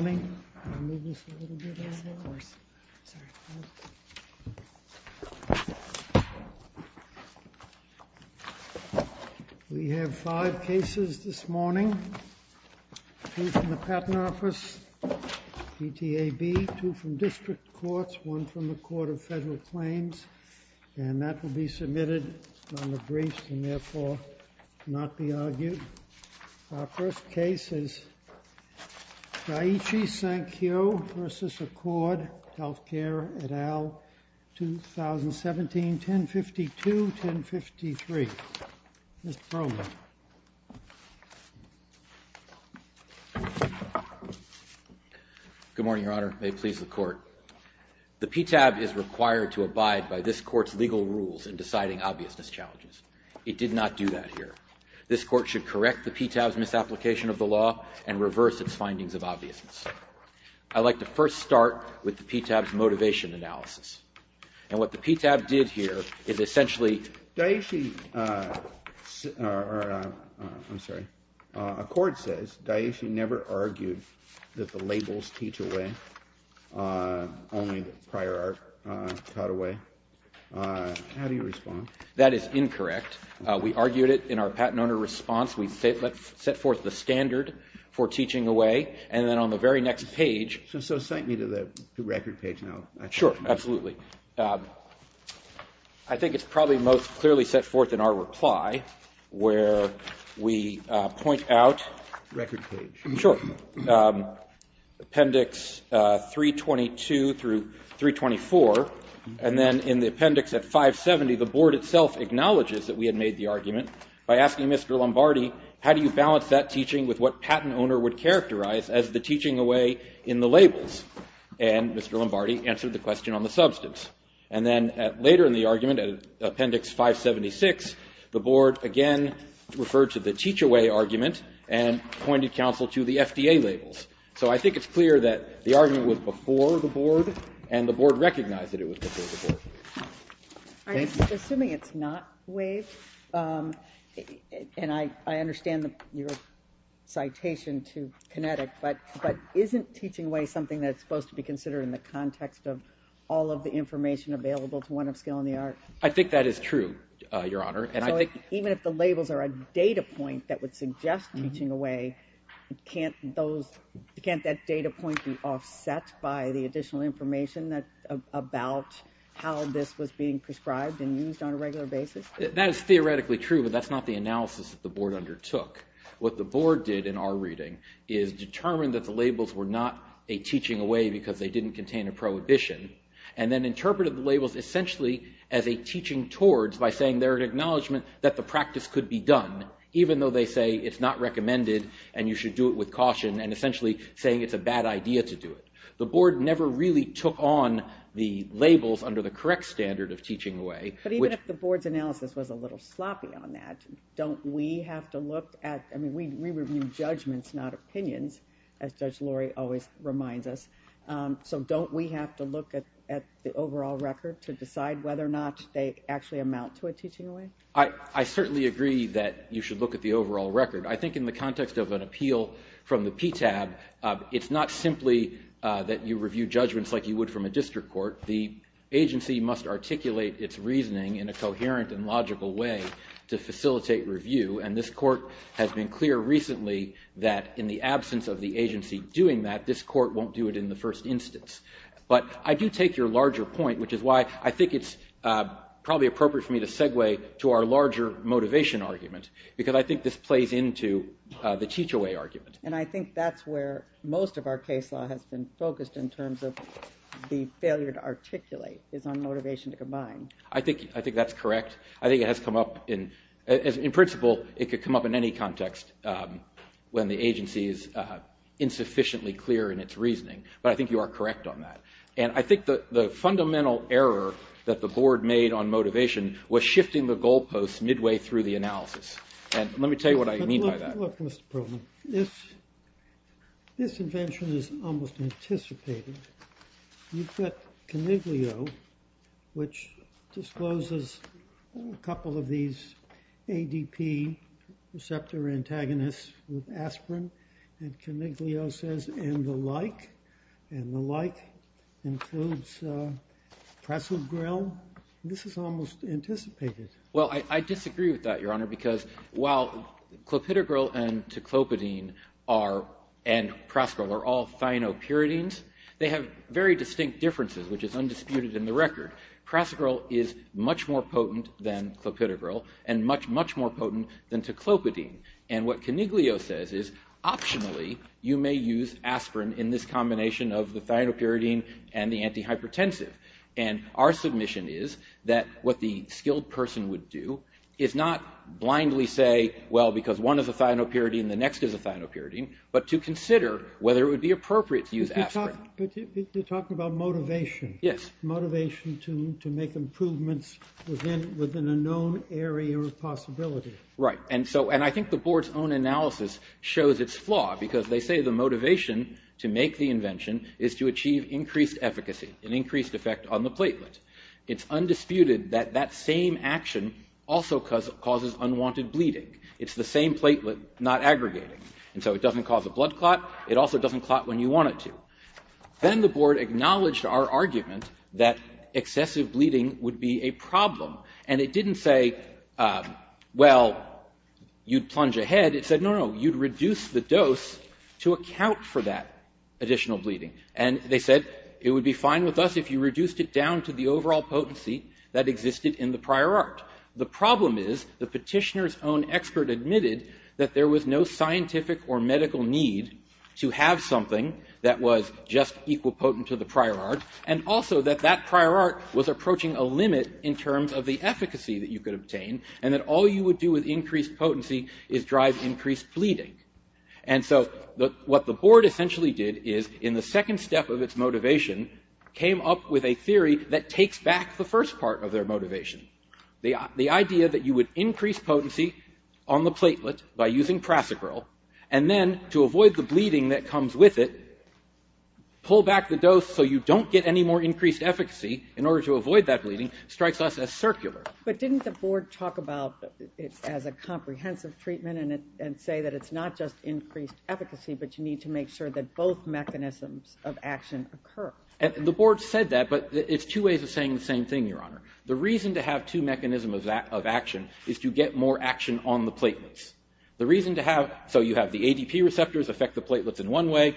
We have five cases this morning, two from the Patent Office, PTAB, two from District Courts, one from the Court of Federal Claims, and that will be submitted on the briefs and therefore not be argued. Our first case is Daiichi Sankyo v. Accord Healthcare et al., 2017, 1052-1053. Mr. Brolin. Good morning, Your Honor. May it please the Court. The PTAB is required to abide by this Court's legal rules in deciding obviousness challenges. It did not do that here. This Court should correct the PTAB's misapplication of the law and reverse its findings of obviousness. I'd like to first start with the PTAB's motivation analysis. And what the PTAB did here is essentially... Daiichi... I'm sorry. Accord says Daiichi never argued that the labels teach away, only prior art taught away. How do you respond? That is incorrect. We argued it in our patent owner response. We set forth the standard for teaching away. And then on the very next page... So cite me to the record page now. Sure, absolutely. I think it's probably most clearly set forth in our reply where we point out... Record page. Sure. Appendix 322 through 324. And then in the appendix at 570, the Board itself acknowledges that we had made the argument by asking Mr. Lombardi, how do you balance that teaching with what patent owner would characterize as the teaching away in the labels? And Mr. Lombardi asked the question on the substance. And then later in the argument, Appendix 576, the Board again referred to the teach away argument and pointed counsel to the FDA labels. So I think it's clear that the argument was before the Board and the Board recognized that it was before the Board. I'm assuming it's not waived. And I understand your citation to Kinetic, but isn't teaching away something that's supposed to be considered in the context of all of the information available to one of Skill and the Art? I think that is true, Your Honor. Even if the labels are a data point that would suggest teaching away, can't that data point be offset by the additional information about how this was being prescribed and used on a regular basis? That is theoretically true, but that's not the analysis that the Board undertook. What the Board did in our reading is determine that the label was teaching away because they didn't contain a prohibition, and then interpreted the labels essentially as a teaching towards by saying they're an acknowledgment that the practice could be done, even though they say it's not recommended and you should do it with caution, and essentially saying it's a bad idea to do it. The Board never really took on the labels under the correct standard of teaching away. But even if the Board's analysis was a little sloppy on that, don't we have to look at the overall record to decide whether or not they actually amount to a teaching away? I certainly agree that you should look at the overall record. I think in the context of an appeal from the PTAB, it's not simply that you review judgments like you would from a district court. The agency must articulate its reasoning in a coherent and logical way to facilitate review, and this court has been clear recently that in the absence of the agency doing that, this court won't do it in the first instance. But I do take your larger point, which is why I think it's probably appropriate for me to segue to our larger motivation argument, because I think this plays into the teach away argument. And I think that's where most of our case law has been focused in terms of the failure to articulate is on motivation to combine. I think that's correct. I think it could come up in any context when the agency is insufficiently clear in its reasoning, but I think you are correct on that. And I think the fundamental error that the Board made on motivation was shifting the goalposts midway through the analysis. And let me tell you what I mean by that. Look, Mr. Perlman, this invention is almost anticipated. You've got Coniglio, which discloses a couple of these ADP receptor antagonists with aspirin, and Coniglio says, and the like, and the like includes Pressle-Grill. This is almost anticipated. Well, I disagree with that, Your Honor, because while Clopidogrel and Teclopidine and Pressle-Grill are all thionopyridines, they have very distinct differences, which is undisputed in the record. Pressle-Grill is much more potent than Clopidogrel and much, much more potent than Teclopidine. And what Coniglio says is, optionally, you may use aspirin in this combination of the thionopyridine and the not blindly say, well, because one is a thionopyridine, the next is a thionopyridine, but to consider whether it would be appropriate to use aspirin. But you're talking about motivation. Yes. Motivation to make improvements within a known area of possibility. Right. And I think the Board's own analysis shows its flaw, because they say the motivation to make the invention is to achieve increased efficacy, an increased effect on the platelet. It's undisputed that that same action also causes unwanted bleeding. It's the same platelet, not aggregating. And so it doesn't cause a blood clot. It also doesn't clot when you want it to. Then the Board acknowledged our argument that excessive bleeding would be a problem. And it didn't say, well, you'd plunge ahead. It said, no, no, you'd reduce the dose to account for that overall potency that existed in the prior art. The problem is the petitioner's own expert admitted that there was no scientific or medical need to have something that was just equal potent to the prior art, and also that that prior art was approaching a limit in terms of the efficacy that you could obtain, and that all you would do with increased potency is drive increased bleeding. And so what the Board essentially did is, in the second step of its motivation, came up with a theory that takes back the first part of their motivation. The idea that you would increase potency on the platelet by using Prasacryl, and then to avoid the bleeding that comes with it, pull back the dose so you don't get any more increased efficacy in order to avoid that bleeding, strikes us as circular. But didn't the Board talk about it as a comprehensive treatment and say that it's not just increased efficacy, but you need to make sure that both mechanisms of action occur? The Board said that, but it's two ways of saying the same thing, Your Honor. The reason to have two mechanisms of action is to get more action on the platelets. The reason to have, so you have the ADP receptors affect the platelets in one way,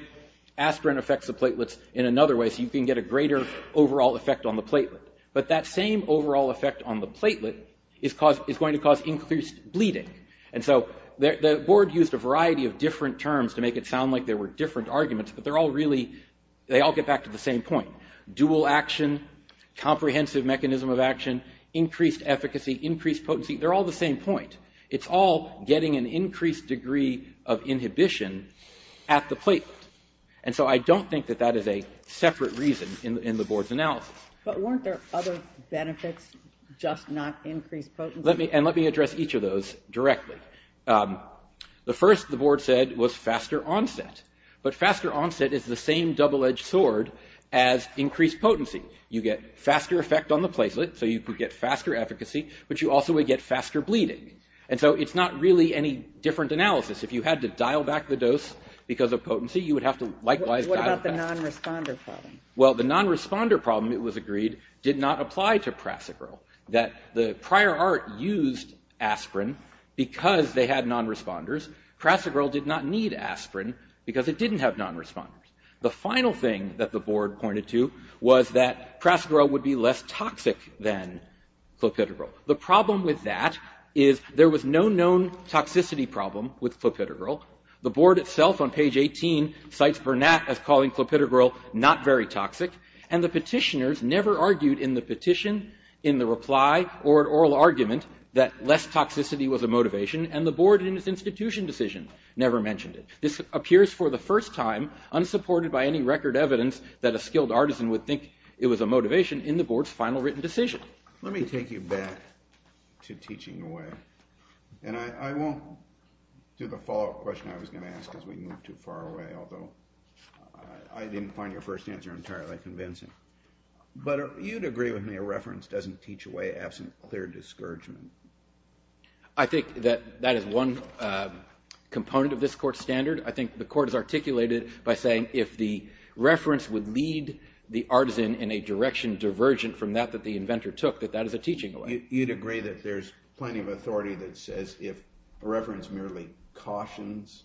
aspirin affects the platelets in another way, so you can get a greater overall effect on the platelet. But that same overall effect on the platelet is going to cause increased bleeding. And so the Board used a variety of different terms to make it sound like there were different arguments, but they're all really, they all get back to the same point. Dual action, comprehensive mechanism of action, increased efficacy, increased potency, they're all the same point. It's all getting an increased degree of inhibition at the platelet. And so I don't think that that is a separate reason in the Board's analysis. But weren't there other benefits, just not increased potency? Let me, and let me address each of those directly. The first, the Board said, was faster onset. But faster onset is the same double-edged sword as increased potency. You get faster effect on the platelet, so you could get faster efficacy, but you also would get faster bleeding. And so it's not really any different analysis. If you had to dial back the dose because of potency, you would have to likewise dial it back. What about the non-responder problem? Well, the non-responder problem, it was agreed, did not apply to Prasicril. That the prior art used aspirin because they had non-responders. Prasicril did not need aspirin because it didn't have non-responders. The final thing that the Board pointed to was that Prasicril would be less toxic than Clopidogrel. The problem with that is there was no known toxicity problem with Clopidogrel. The Board itself on page 18 cites Burnett as calling Clopidogrel not very toxic. And the petitioners never argued in the petition, in the reply, or an oral argument that less toxicity was a motivation, and the Board in its institution decision never mentioned it. This appears for the first time, unsupported by any record evidence, that a skilled artisan would think it was a motivation in the Board's final written decision. Let me take you back to teaching away. And I won't do the follow-up question I was going to ask because we moved too far away, although I didn't find your first answer entirely convincing. But you'd agree with me a reference doesn't teach away absent clear discouragement. I think that that is one component of this Court's standard. I think the Court has articulated it by saying if the reference would lead the artisan in a direction divergent from that that the inventor took, that that is a teaching away. You'd agree that there's plenty of authority that says if a reference merely cautions,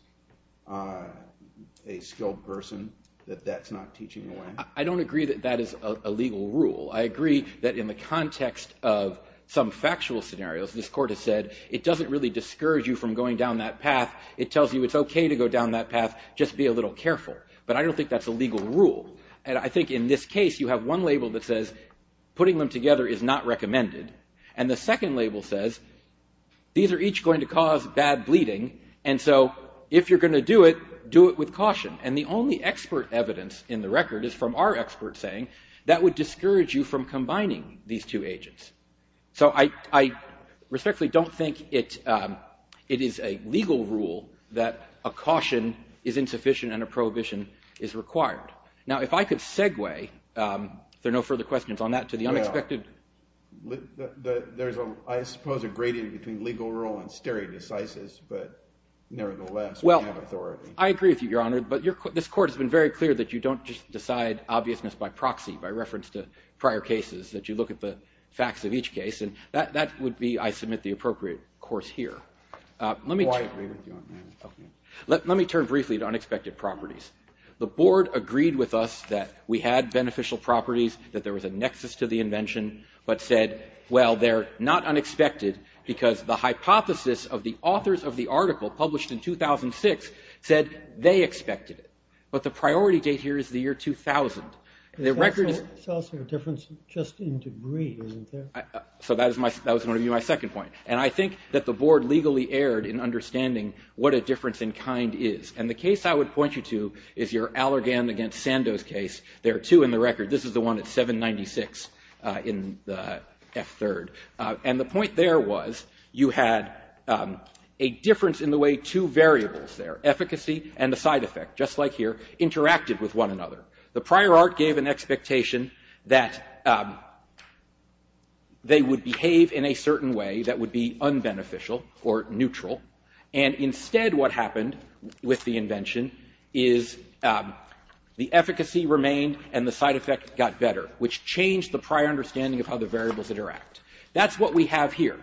a skilled person, that that's not teaching away? I don't agree that that is a legal rule. I agree that in the context of some factual scenarios, this Court has said, it doesn't really discourage you from going down that path. It tells you it's okay to go down that path, just be a little careful. But I don't think that's a legal rule. And I think in this case, you have one label that says putting them together is not recommended. And the second label says these are each going to cause bad bleeding. And so if you're going to do it, do it with caution. And the only expert evidence in the record is from our expert saying that would discourage you from combining these two agents. So I respectfully don't think it is a legal rule that a caution is insufficient and a prohibition is required. Now if I could segue, if there are no further questions on that, to the unexpected. There's, I suppose, a gradient between legal rule and stare decisis, but nevertheless, we have authority. I agree with you, Your Honor. But this Court has been very clear that you don't just decide obviousness by proxy, by reference to prior cases, that you look at the facts of each case. And that would be, I submit, the appropriate course here. Oh, I agree with you on that. Let me turn briefly to unexpected properties. The Board agreed with us that we had beneficial properties, that there was a nexus to the invention, but said, well, they're not unexpected because the hypothesis of the authors of the article published in 2006 said they expected it. But the priority date here is the year 2000. The record is... It's also a difference just in degree, isn't there? So that was going to be my second point. And I think that the Board legally erred in understanding what a difference in kind is. And the case I would point you to is your Allergan against Sandoz case. There are two in the record. This is the one at 796 in the F3rd. And the point there was you had a difference in the way two variables there, efficacy and the side effect, just like here, interacted with one another. The prior art gave an expectation that they would behave in a certain way that would be unbeneficial or neutral. And instead what happened with the invention is the efficacy remained and the side effect got better, which changed the prior understanding of how the variables interact. That's what we have here.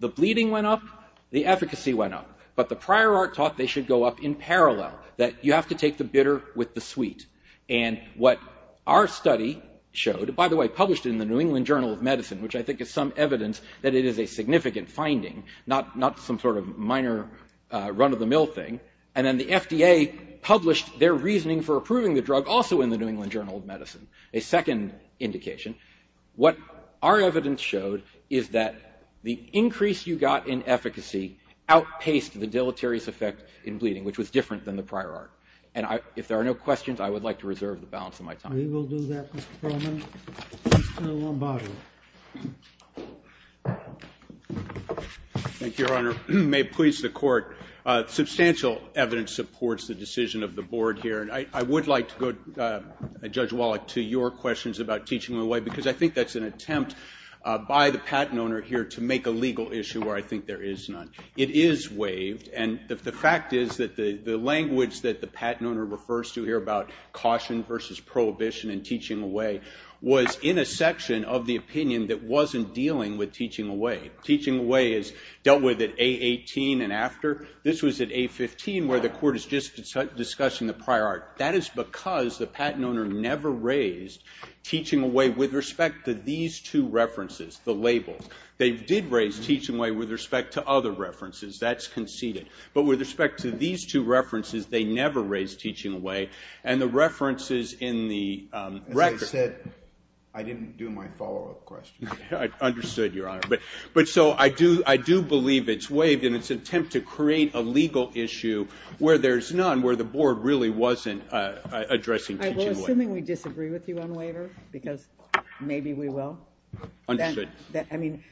The bleeding went up. The efficacy went up. But the prior art thought they should go up in parallel, that you have to take the bitter with the sweet. And what our study showed, by the way, published in the New England Journal of Medicine, which I think is some evidence that it is a significant finding, not some sort of minor run-of-the-mill thing. And then the FDA published their reasoning for approving the drug, also in the New England Journal of Medicine, a second indication. What our evidence showed is that the increase you got in efficacy outpaced the deleterious effect in bleeding, which was different than the prior art. And if there are no questions, I would like to reserve the balance of my time. We will do that, Mr. Perlman. Mr. Lombardi. Thank you, Your Honor. May it please the court. Substantial evidence supports the decision of the board here. And I would like to go, Judge Wallach, to your questions about teaching them away, because I think that's an attempt by the patent owner here to make a legal issue where I think there is none. It is waived. And the fact is that the language that the patent owner refers to here about caution versus prohibition and teaching away was in a section of the opinion that wasn't dealing with teaching away. Teaching away is dealt with at A18 and after. This was at A15, where the court is just discussing the prior art. That is because the patent owner never raised teaching away with respect to these two references, the labels. They did raise teaching away with respect to other references. That's conceded. But with respect to these two references, they never raised teaching away. And the references in the record. As I said, I didn't do my follow-up question. I understood, Your Honor. But so I do believe it's waived in its attempt to create a legal issue where there's none, where the board really wasn't addressing teaching away. I will, assuming we disagree with you on waiver, because maybe we will. Understood. I mean,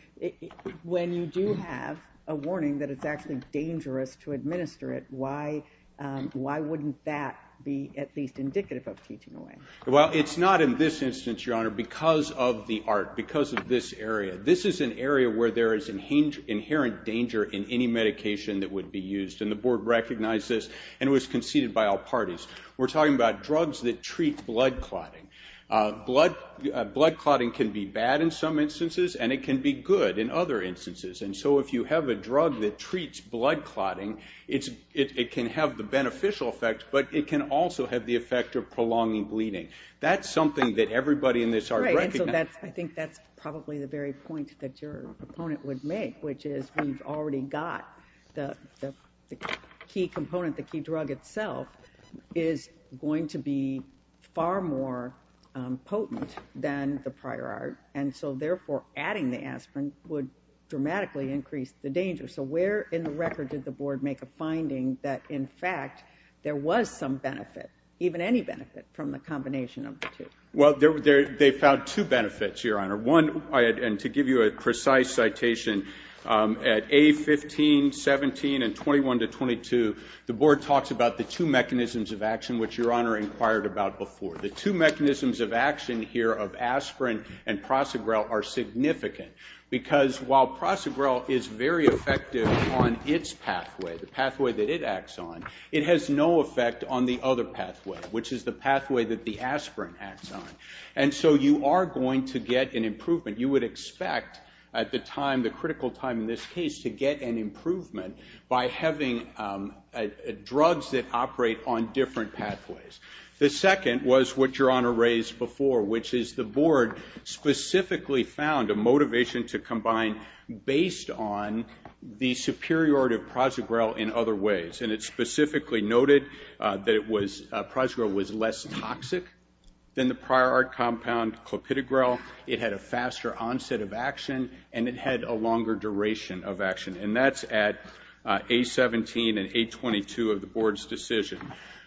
when you do have a warning that it's actually dangerous to administer it, why wouldn't that be at least indicative of teaching away? Well, it's not in this instance, Your Honor, because of the art, because of this area. This is an area where there is inherent danger in any medication that would be used. And the board recognized this and it was conceded by all parties. We're talking about drugs that treat blood clotting. Blood clotting can be bad in some instances and it can be good in other instances. And so if you have a drug that treats blood clotting, it can have the beneficial effect, but it can also have the effect of prolonging bleeding. That's something that everybody in this art recognized. I think that's probably the very point that your opponent would make, which is we've already got the key component, the key drug itself, is going to be far more potent than the prior art. And so, therefore, adding the aspirin would dramatically increase the danger. So where in the record did the board make a finding that, in fact, there was some benefit, even any benefit, from the combination of the two? Well, they found two benefits, Your Honor. One, and to give you a precise citation, at A15, 17, and 21 to 22, the board talks about the two mechanisms of action, which Your Honor inquired about before. The two mechanisms of action here of aspirin and Prosegrel are significant, because while Prosegrel is very effective on its pathway, the pathway that it acts on, it has no effect on the other pathway, which is the pathway that the aspirin acts on. And so you are going to get an improvement. You would expect, at the time, the critical time in this case, to get an improvement by having drugs that operate on different pathways. The second was what Your Honor raised before, which is the board specifically found a motivation to combine based on the superiority of Prosegrel in other ways. And it specifically noted that it was, Prosegrel was less toxic than the prior art compound, Clopidogrel. It had a faster onset of action, and it had a longer duration of action. And that's at A17 and A22 of the board's decision.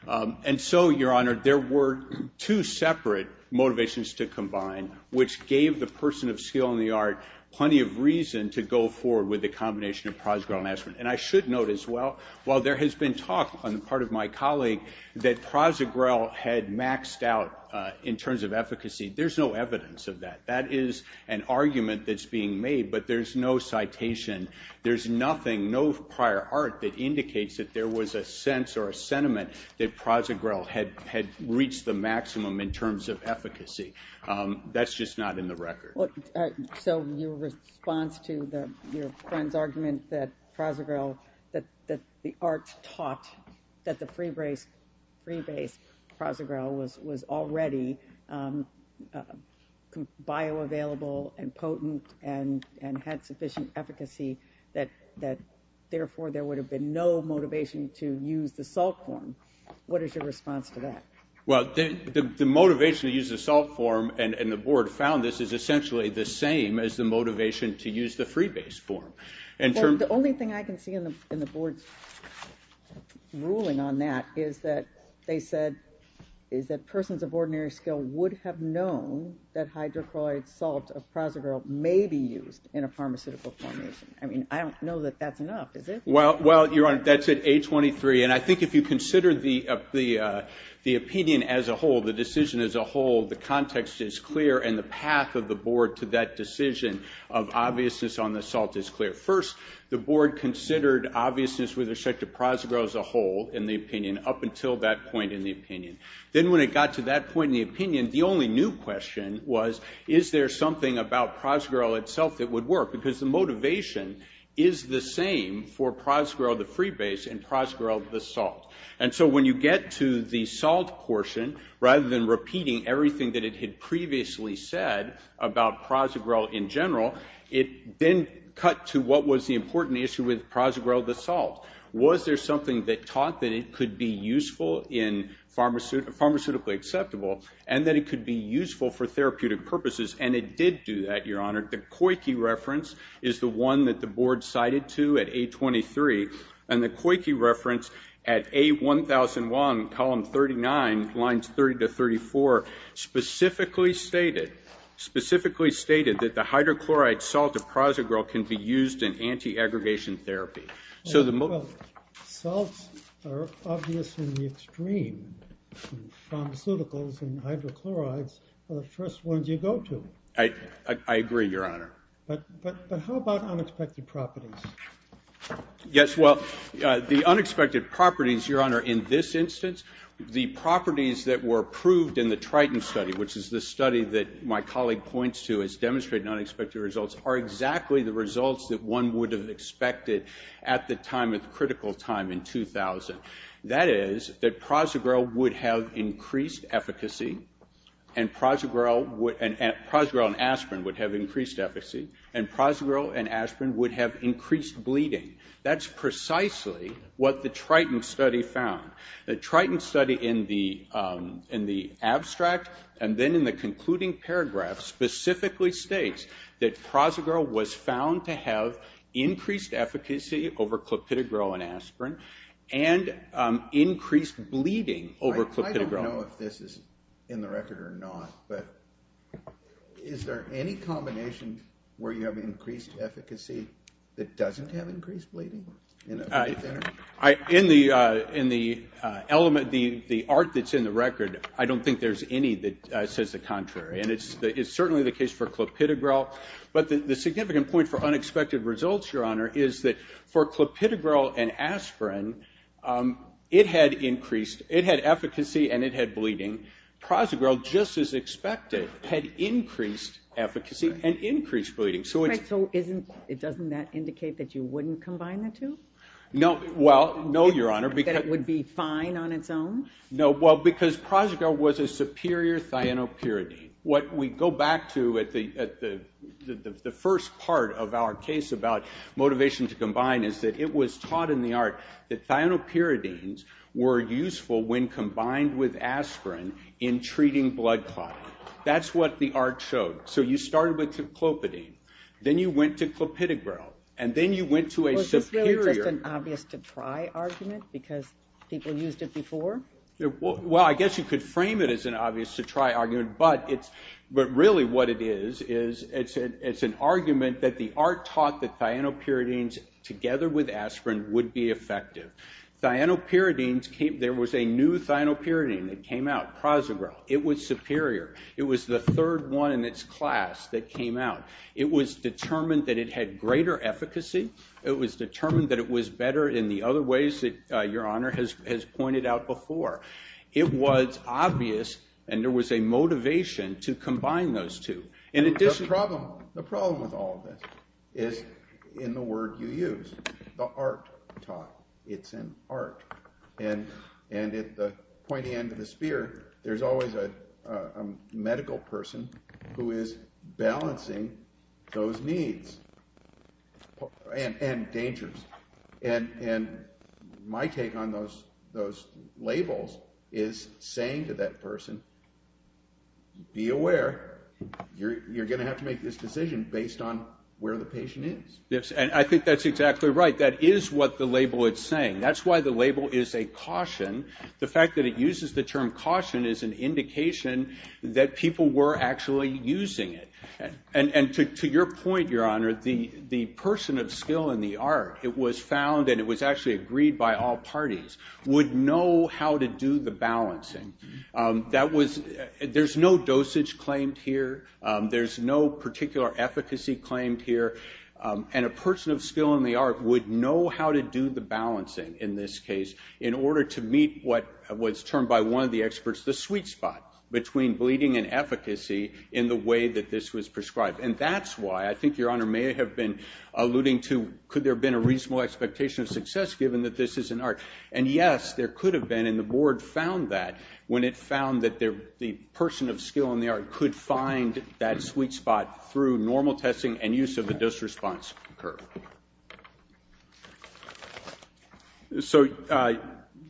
And so, Your Honor, there were two separate motivations to combine, which gave the person of skill in the art plenty of reason to go forward with the combination of Prosegrel and aspirin. And I should note as well, while there has been talk on the part of my colleague that Prosegrel had maxed out in terms of efficacy, there's no evidence of that. That is an argument that's being made, but there's no citation. There's nothing, no prior art that indicates that there was a sense or a sentiment that Prosegrel had reached the maximum in terms of efficacy. That's just not in the record. So your response to your friend's argument that Prosegrel, that the art taught that the free base Prosegrel was already bioavailable and potent and had sufficient efficacy, that therefore, there would have been no motivation to use the salt form. What is your response to that? Well, the motivation to use the salt form, and the board found this, is essentially the same as the motivation to use the free base form. The only thing I can see in the board's ruling on that is that they said, is that persons of ordinary skill would have known that hydrochloric salt of Prosegrel may be used in a pharmaceutical formation. I mean, I don't know that that's enough, is it? Well, your honor, that's at 823, and I think if you consider the opinion as a whole, the decision as a whole, the context is clear, and the path of the board to that decision of obviousness on the salt is clear. First, the board considered obviousness with respect to Prosegrel as a whole, in the opinion, up until that point in the opinion. Then when it got to that point in the opinion, the only new question was, is there something about Prosegrel itself that would work? Because the motivation is the same for Prosegrel, the free base, and Prosegrel, the salt. And so when you get to the salt portion, rather than repeating everything that it had previously said about Prosegrel in general, it then cut to what was the important issue with Prosegrel, the salt. Was there something that taught that it could be useful in pharmaceutically acceptable, and that it could be useful for therapeutic purposes? And it did do that, your honor. The Coyke reference is the one that the board cited to at 823, and the Coyke reference at A1001, column 39, lines 30 to 34, specifically stated that the hydrochloride salt of Prosegrel can be used in anti-aggregation therapy. So the most- Well, salts are obvious in the extreme, and pharmaceuticals and hydrochlorides are the first ones you go to. I agree, your honor. But how about unexpected properties? Yes, well, the unexpected properties, your honor, in this instance, the properties that were proved in the Triton study, which is the study that my colleague points to as demonstrating unexpected results, are exactly the results that one would have expected at the time, at the critical time in 2000. That is, that Prosegrel would have increased efficacy, and Prosegrel and aspirin would have increased efficacy, and Prosegrel and aspirin would have increased bleeding. That's precisely what the Triton study found. The Triton study in the abstract, and then in the concluding paragraph, specifically states that Prosegrel was found to have increased efficacy over Clopidogrel and aspirin, and increased bleeding over Clopidogrel. I don't know if this is in the record or not, but is there any combination where you have increased efficacy that doesn't have increased bleeding? In the element, the art that's in the record, I don't think there's any that says the contrary. And it's certainly the case for Clopidogrel. But the significant point for unexpected results, your honor, is that for Clopidogrel and aspirin, it had increased, it had efficacy and it had bleeding. Prosegrel, just as expected, had increased efficacy and increased bleeding. So doesn't that indicate that you wouldn't combine the two? No, well, no, your honor. That it would be fine on its own? No, well, because Prosegrel was a superior thionopyridine. What we go back to at the first part of our case about motivation to combine is that it was taught in the art that thionopyridines were useful when combined with aspirin in treating blood clotting. That's what the art showed. So you started with clopidine. Then you went to Clopidogrel. And then you went to a superior- Well, is this really just an obvious to try argument because people used it before? Well, I guess you could frame it as an obvious to try argument. But really what it is, is it's an argument that the art taught that thionopyridines together with aspirin would be effective. Thionopyridines came, there was a new thionopyridine that came out, Prosegrel, it was superior. It was the third one in its class that came out. It was determined that it had greater efficacy. It was determined that it was better in the other ways that your honor has pointed out before. It was obvious and there was a motivation to combine those two. In addition- The problem with all of this is in the word you use, the art taught. It's an art. And at the pointy end of the spear, there's always a medical person who is balancing those needs and dangers. And my take on those labels is saying to that person, be aware, you're going to have to make this decision based on where the patient is. Yes, and I think that's exactly right. That is what the label is saying. That's why the label is a caution. The fact that it uses the term caution is an indication that people were actually using it. And to your point, your honor, the person of skill in the art, it was found and it was actually agreed by all parties, would know how to do the balancing. That was, there's no dosage claimed here. There's no particular efficacy claimed here. And a person of skill in the art would know how to do the balancing in this case in order to meet what was termed by one of the experts the sweet spot between bleeding and efficacy in the way that this was prescribed. And that's why I think your honor may have been alluding to, could there have been a reasonable expectation of success given that this is an art? And yes, there could have been and the board found that when it found that the person of skill in the art could find that sweet spot through normal testing and use of the disresponse curve. So,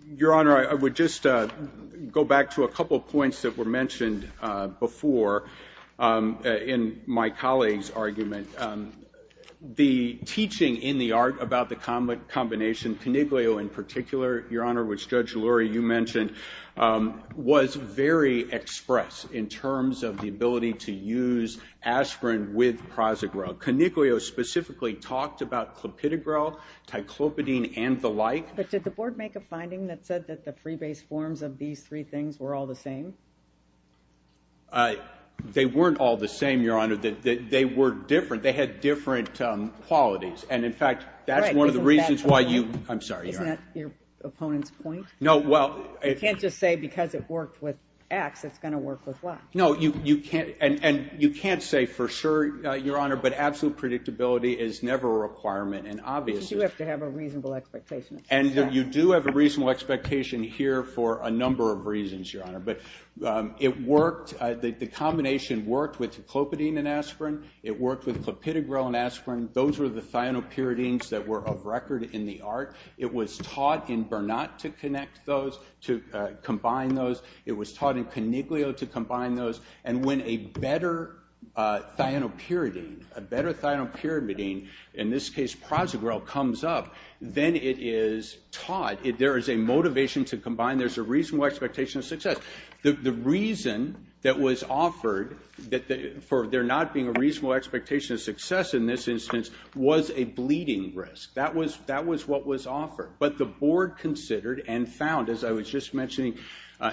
your honor, I would just go back to a couple of points that were mentioned before in my colleague's argument. The teaching in the art about the combination, coniglio in particular, your honor, which Judge Lurie, you mentioned, was very express in terms of the ability to use aspirin with Prazegrel. Coniglio specifically talked about Clopidogrel, Ticlopidine, and the like. But did the board make a finding that said that the pre-based forms of these three things were all the same? They weren't all the same, your honor. They were different. They had different qualities. And in fact, that's one of the reasons why you, I'm sorry, your honor. Isn't that your opponent's point? No, well. You can't just say because it worked with X, it's going to work with Y. No, you can't. And you can't say for sure, your honor, but absolute predictability is never a requirement. And obviously. You do have to have a reasonable expectation. And you do have a reasonable expectation here for a number of reasons, your honor. But it worked, the combination worked with Ticlopidine and aspirin. It worked with Clopidogrel and aspirin. Those were the thionopyridines that were of record in the art. It was taught in Bernat to connect those, to combine those. It was taught in Coniglio to combine those. And when a better thionopyridine, a better thionopyridine, in this case, Prozogrel, comes up, then it is taught. There is a motivation to combine. There's a reasonable expectation of success. The reason that was offered for there not being a reasonable expectation of success in this instance was a bleeding risk. That was what was offered. But the board considered and found, as I was just mentioning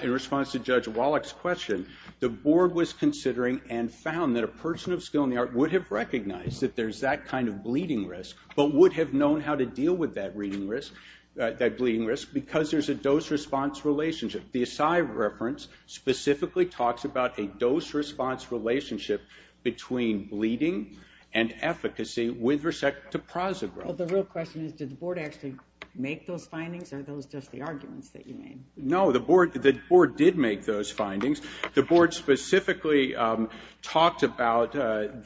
in response to Judge Wallach's question, the board was considering and found that a person of skill in the art would have recognized that there's that kind of bleeding risk, but would have known how to deal with that bleeding risk because there's a dose-response relationship. The Assay reference specifically talks about a dose-response relationship between bleeding and efficacy with respect to Prozogrel. The real question is, did the board actually make those findings? Are those just the arguments that you made? No, the board did make those findings. The board specifically talked about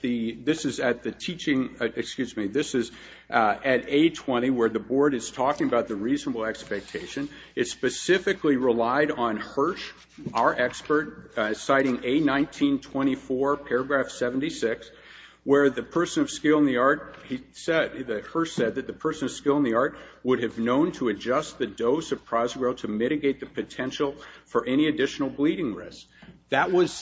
the, this is at the teaching, excuse me, this is at A20 where the board is talking about the reasonable expectation. It specifically relied on Hirsch, our expert, citing A1924, paragraph 76, where the person of skill in the art, Hirsch said that the person of skill in the art would have known to adjust the dose of Prozogrel to mitigate the potential for any additional bleeding risk. That was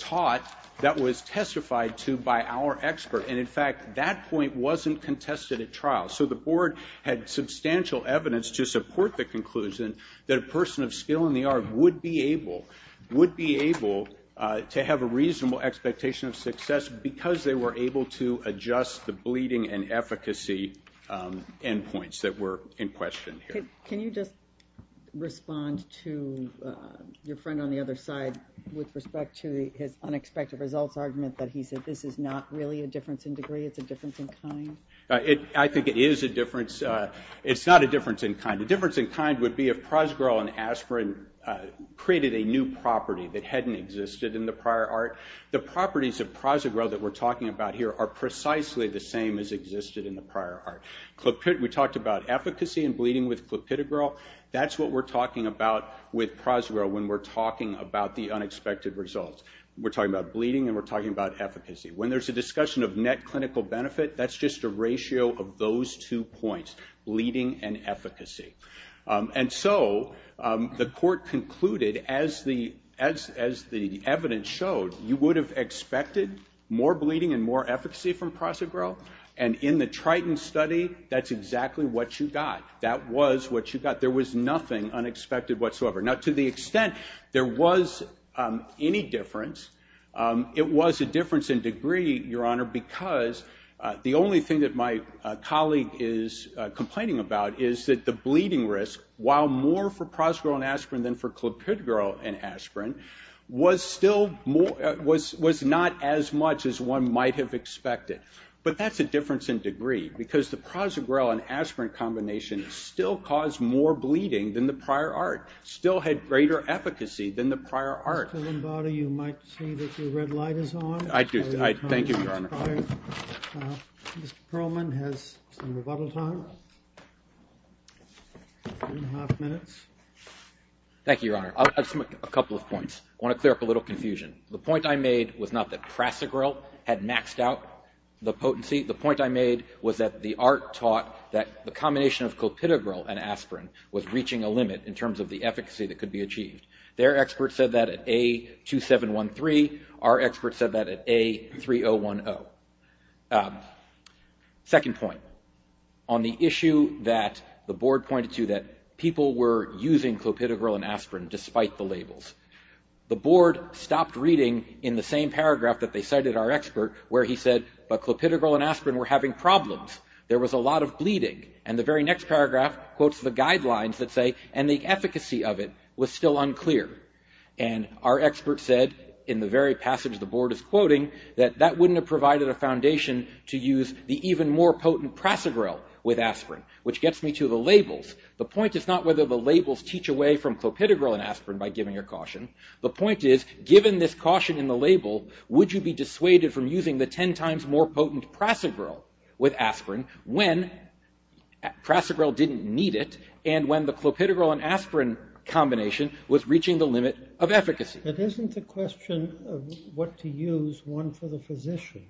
taught, that was testified to by our expert. And in fact, that point wasn't contested at trial. So the board had substantial evidence to support the conclusion that a person of skill in the art would be able to have a reasonable expectation of success because they were able to adjust the bleeding and efficacy endpoints that were in question here. Can you just respond to your friend on the other side with respect to his unexpected results argument that he said this is not really a difference in degree, it's a difference in kind? I think it is a difference. It's not a difference in kind. The difference in kind would be if Prozogrel and aspirin created a new property that hadn't existed in the prior art. The properties of Prozogrel that we're talking about here are precisely the same as existed in the prior art. We talked about efficacy and bleeding with Clopidogrel. That's what we're talking about with Prozogrel when we're talking about the unexpected results. We're talking about bleeding and we're talking about efficacy. When there's a discussion of net clinical benefit, that's just a ratio of those two points, bleeding and efficacy. And so, the court concluded as the evidence showed, you would have expected more bleeding and more efficacy from Prozogrel and in the Triton study, that's exactly what you got. That was what you got. There was nothing unexpected whatsoever. Now, to the extent there was any difference, it was a difference in degree, Your Honor, because the only thing that my colleague is complaining about is that the bleeding risk, while more for Prozogrel and aspirin than for Clopidogrel and aspirin, was not as much as one might have expected. But that's a difference in degree because the Prozogrel and aspirin combination still caused more bleeding than the prior art, still had greater efficacy than the prior art. Mr. Lombardo, you might see that your red light is on. I do. Thank you, Your Honor. Mr. Perlman has some rebuttal time, three and a half minutes. Thank you, Your Honor. I'll add a couple of points. I want to clear up a little confusion. The point I made was not that Prozogrel had maxed out the potency. The point I made was that the art taught that the combination of Clopidogrel and aspirin was reaching a limit in terms of the efficacy that could be achieved. Their experts said that at A2713. Our experts said that at A3010. Second point, on the issue that the board pointed to, that people were using Clopidogrel and aspirin despite the labels, the board stopped reading in the same paragraph that they cited our expert where he said, but Clopidogrel and aspirin were having problems. There was a lot of bleeding. And the very next paragraph quotes the guidelines that say, and the efficacy of it was still unclear. And our expert said, in the very passage the board is quoting, that that wouldn't have provided a foundation to use the even more potent Prozogrel with aspirin, which gets me to the labels. The point is not whether the labels teach away from Clopidogrel and aspirin by giving your caution. The point is, given this caution in the label, would you be dissuaded from using the 10 times more potent Prozogrel with aspirin when Prozogrel didn't need it and when the Clopidogrel and aspirin combination was reaching the limit of efficacy? But isn't the question of what to use one for the physician?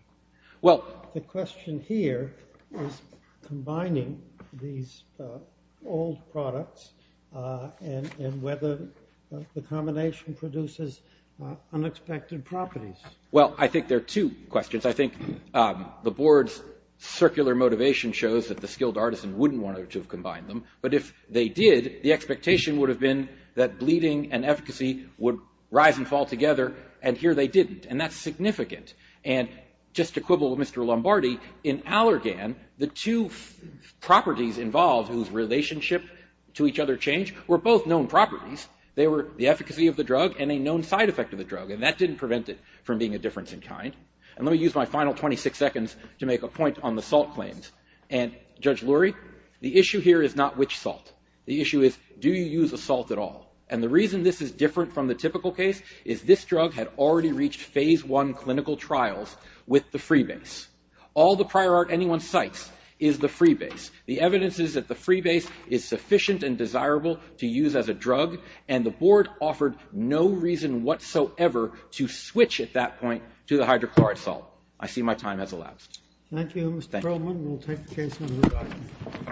Well, the question here is combining these old products and whether the combination produces unexpected properties. Well, I think there are two questions. I think the board's circular motivation shows that the skilled artisan wouldn't want to have combined them. But if they did, the expectation would have been that bleeding and efficacy would rise and fall together. And here they didn't. And that's significant. And just to quibble with Mr. Lombardi, in Allergan, the two properties involved whose relationship to each other change, were both known properties. They were the efficacy of the drug and a known side effect of the drug. And that didn't prevent it from being a difference in kind. And let me use my final 26 seconds to make a point on the salt claims. And Judge Lurie, the issue here is not which salt. The issue is, do you use a salt at all? And the reason this is different from the typical case, is this drug had already reached phase one clinical trials with the freebase. All the prior art anyone cites is the freebase. The evidence is that the freebase is sufficient and desirable to use as a drug. And the board offered no reason whatsoever to switch at that point to the hydrochloric salt. I see my time has elapsed. Thank you, Mr. Truman. We'll take the case on the right.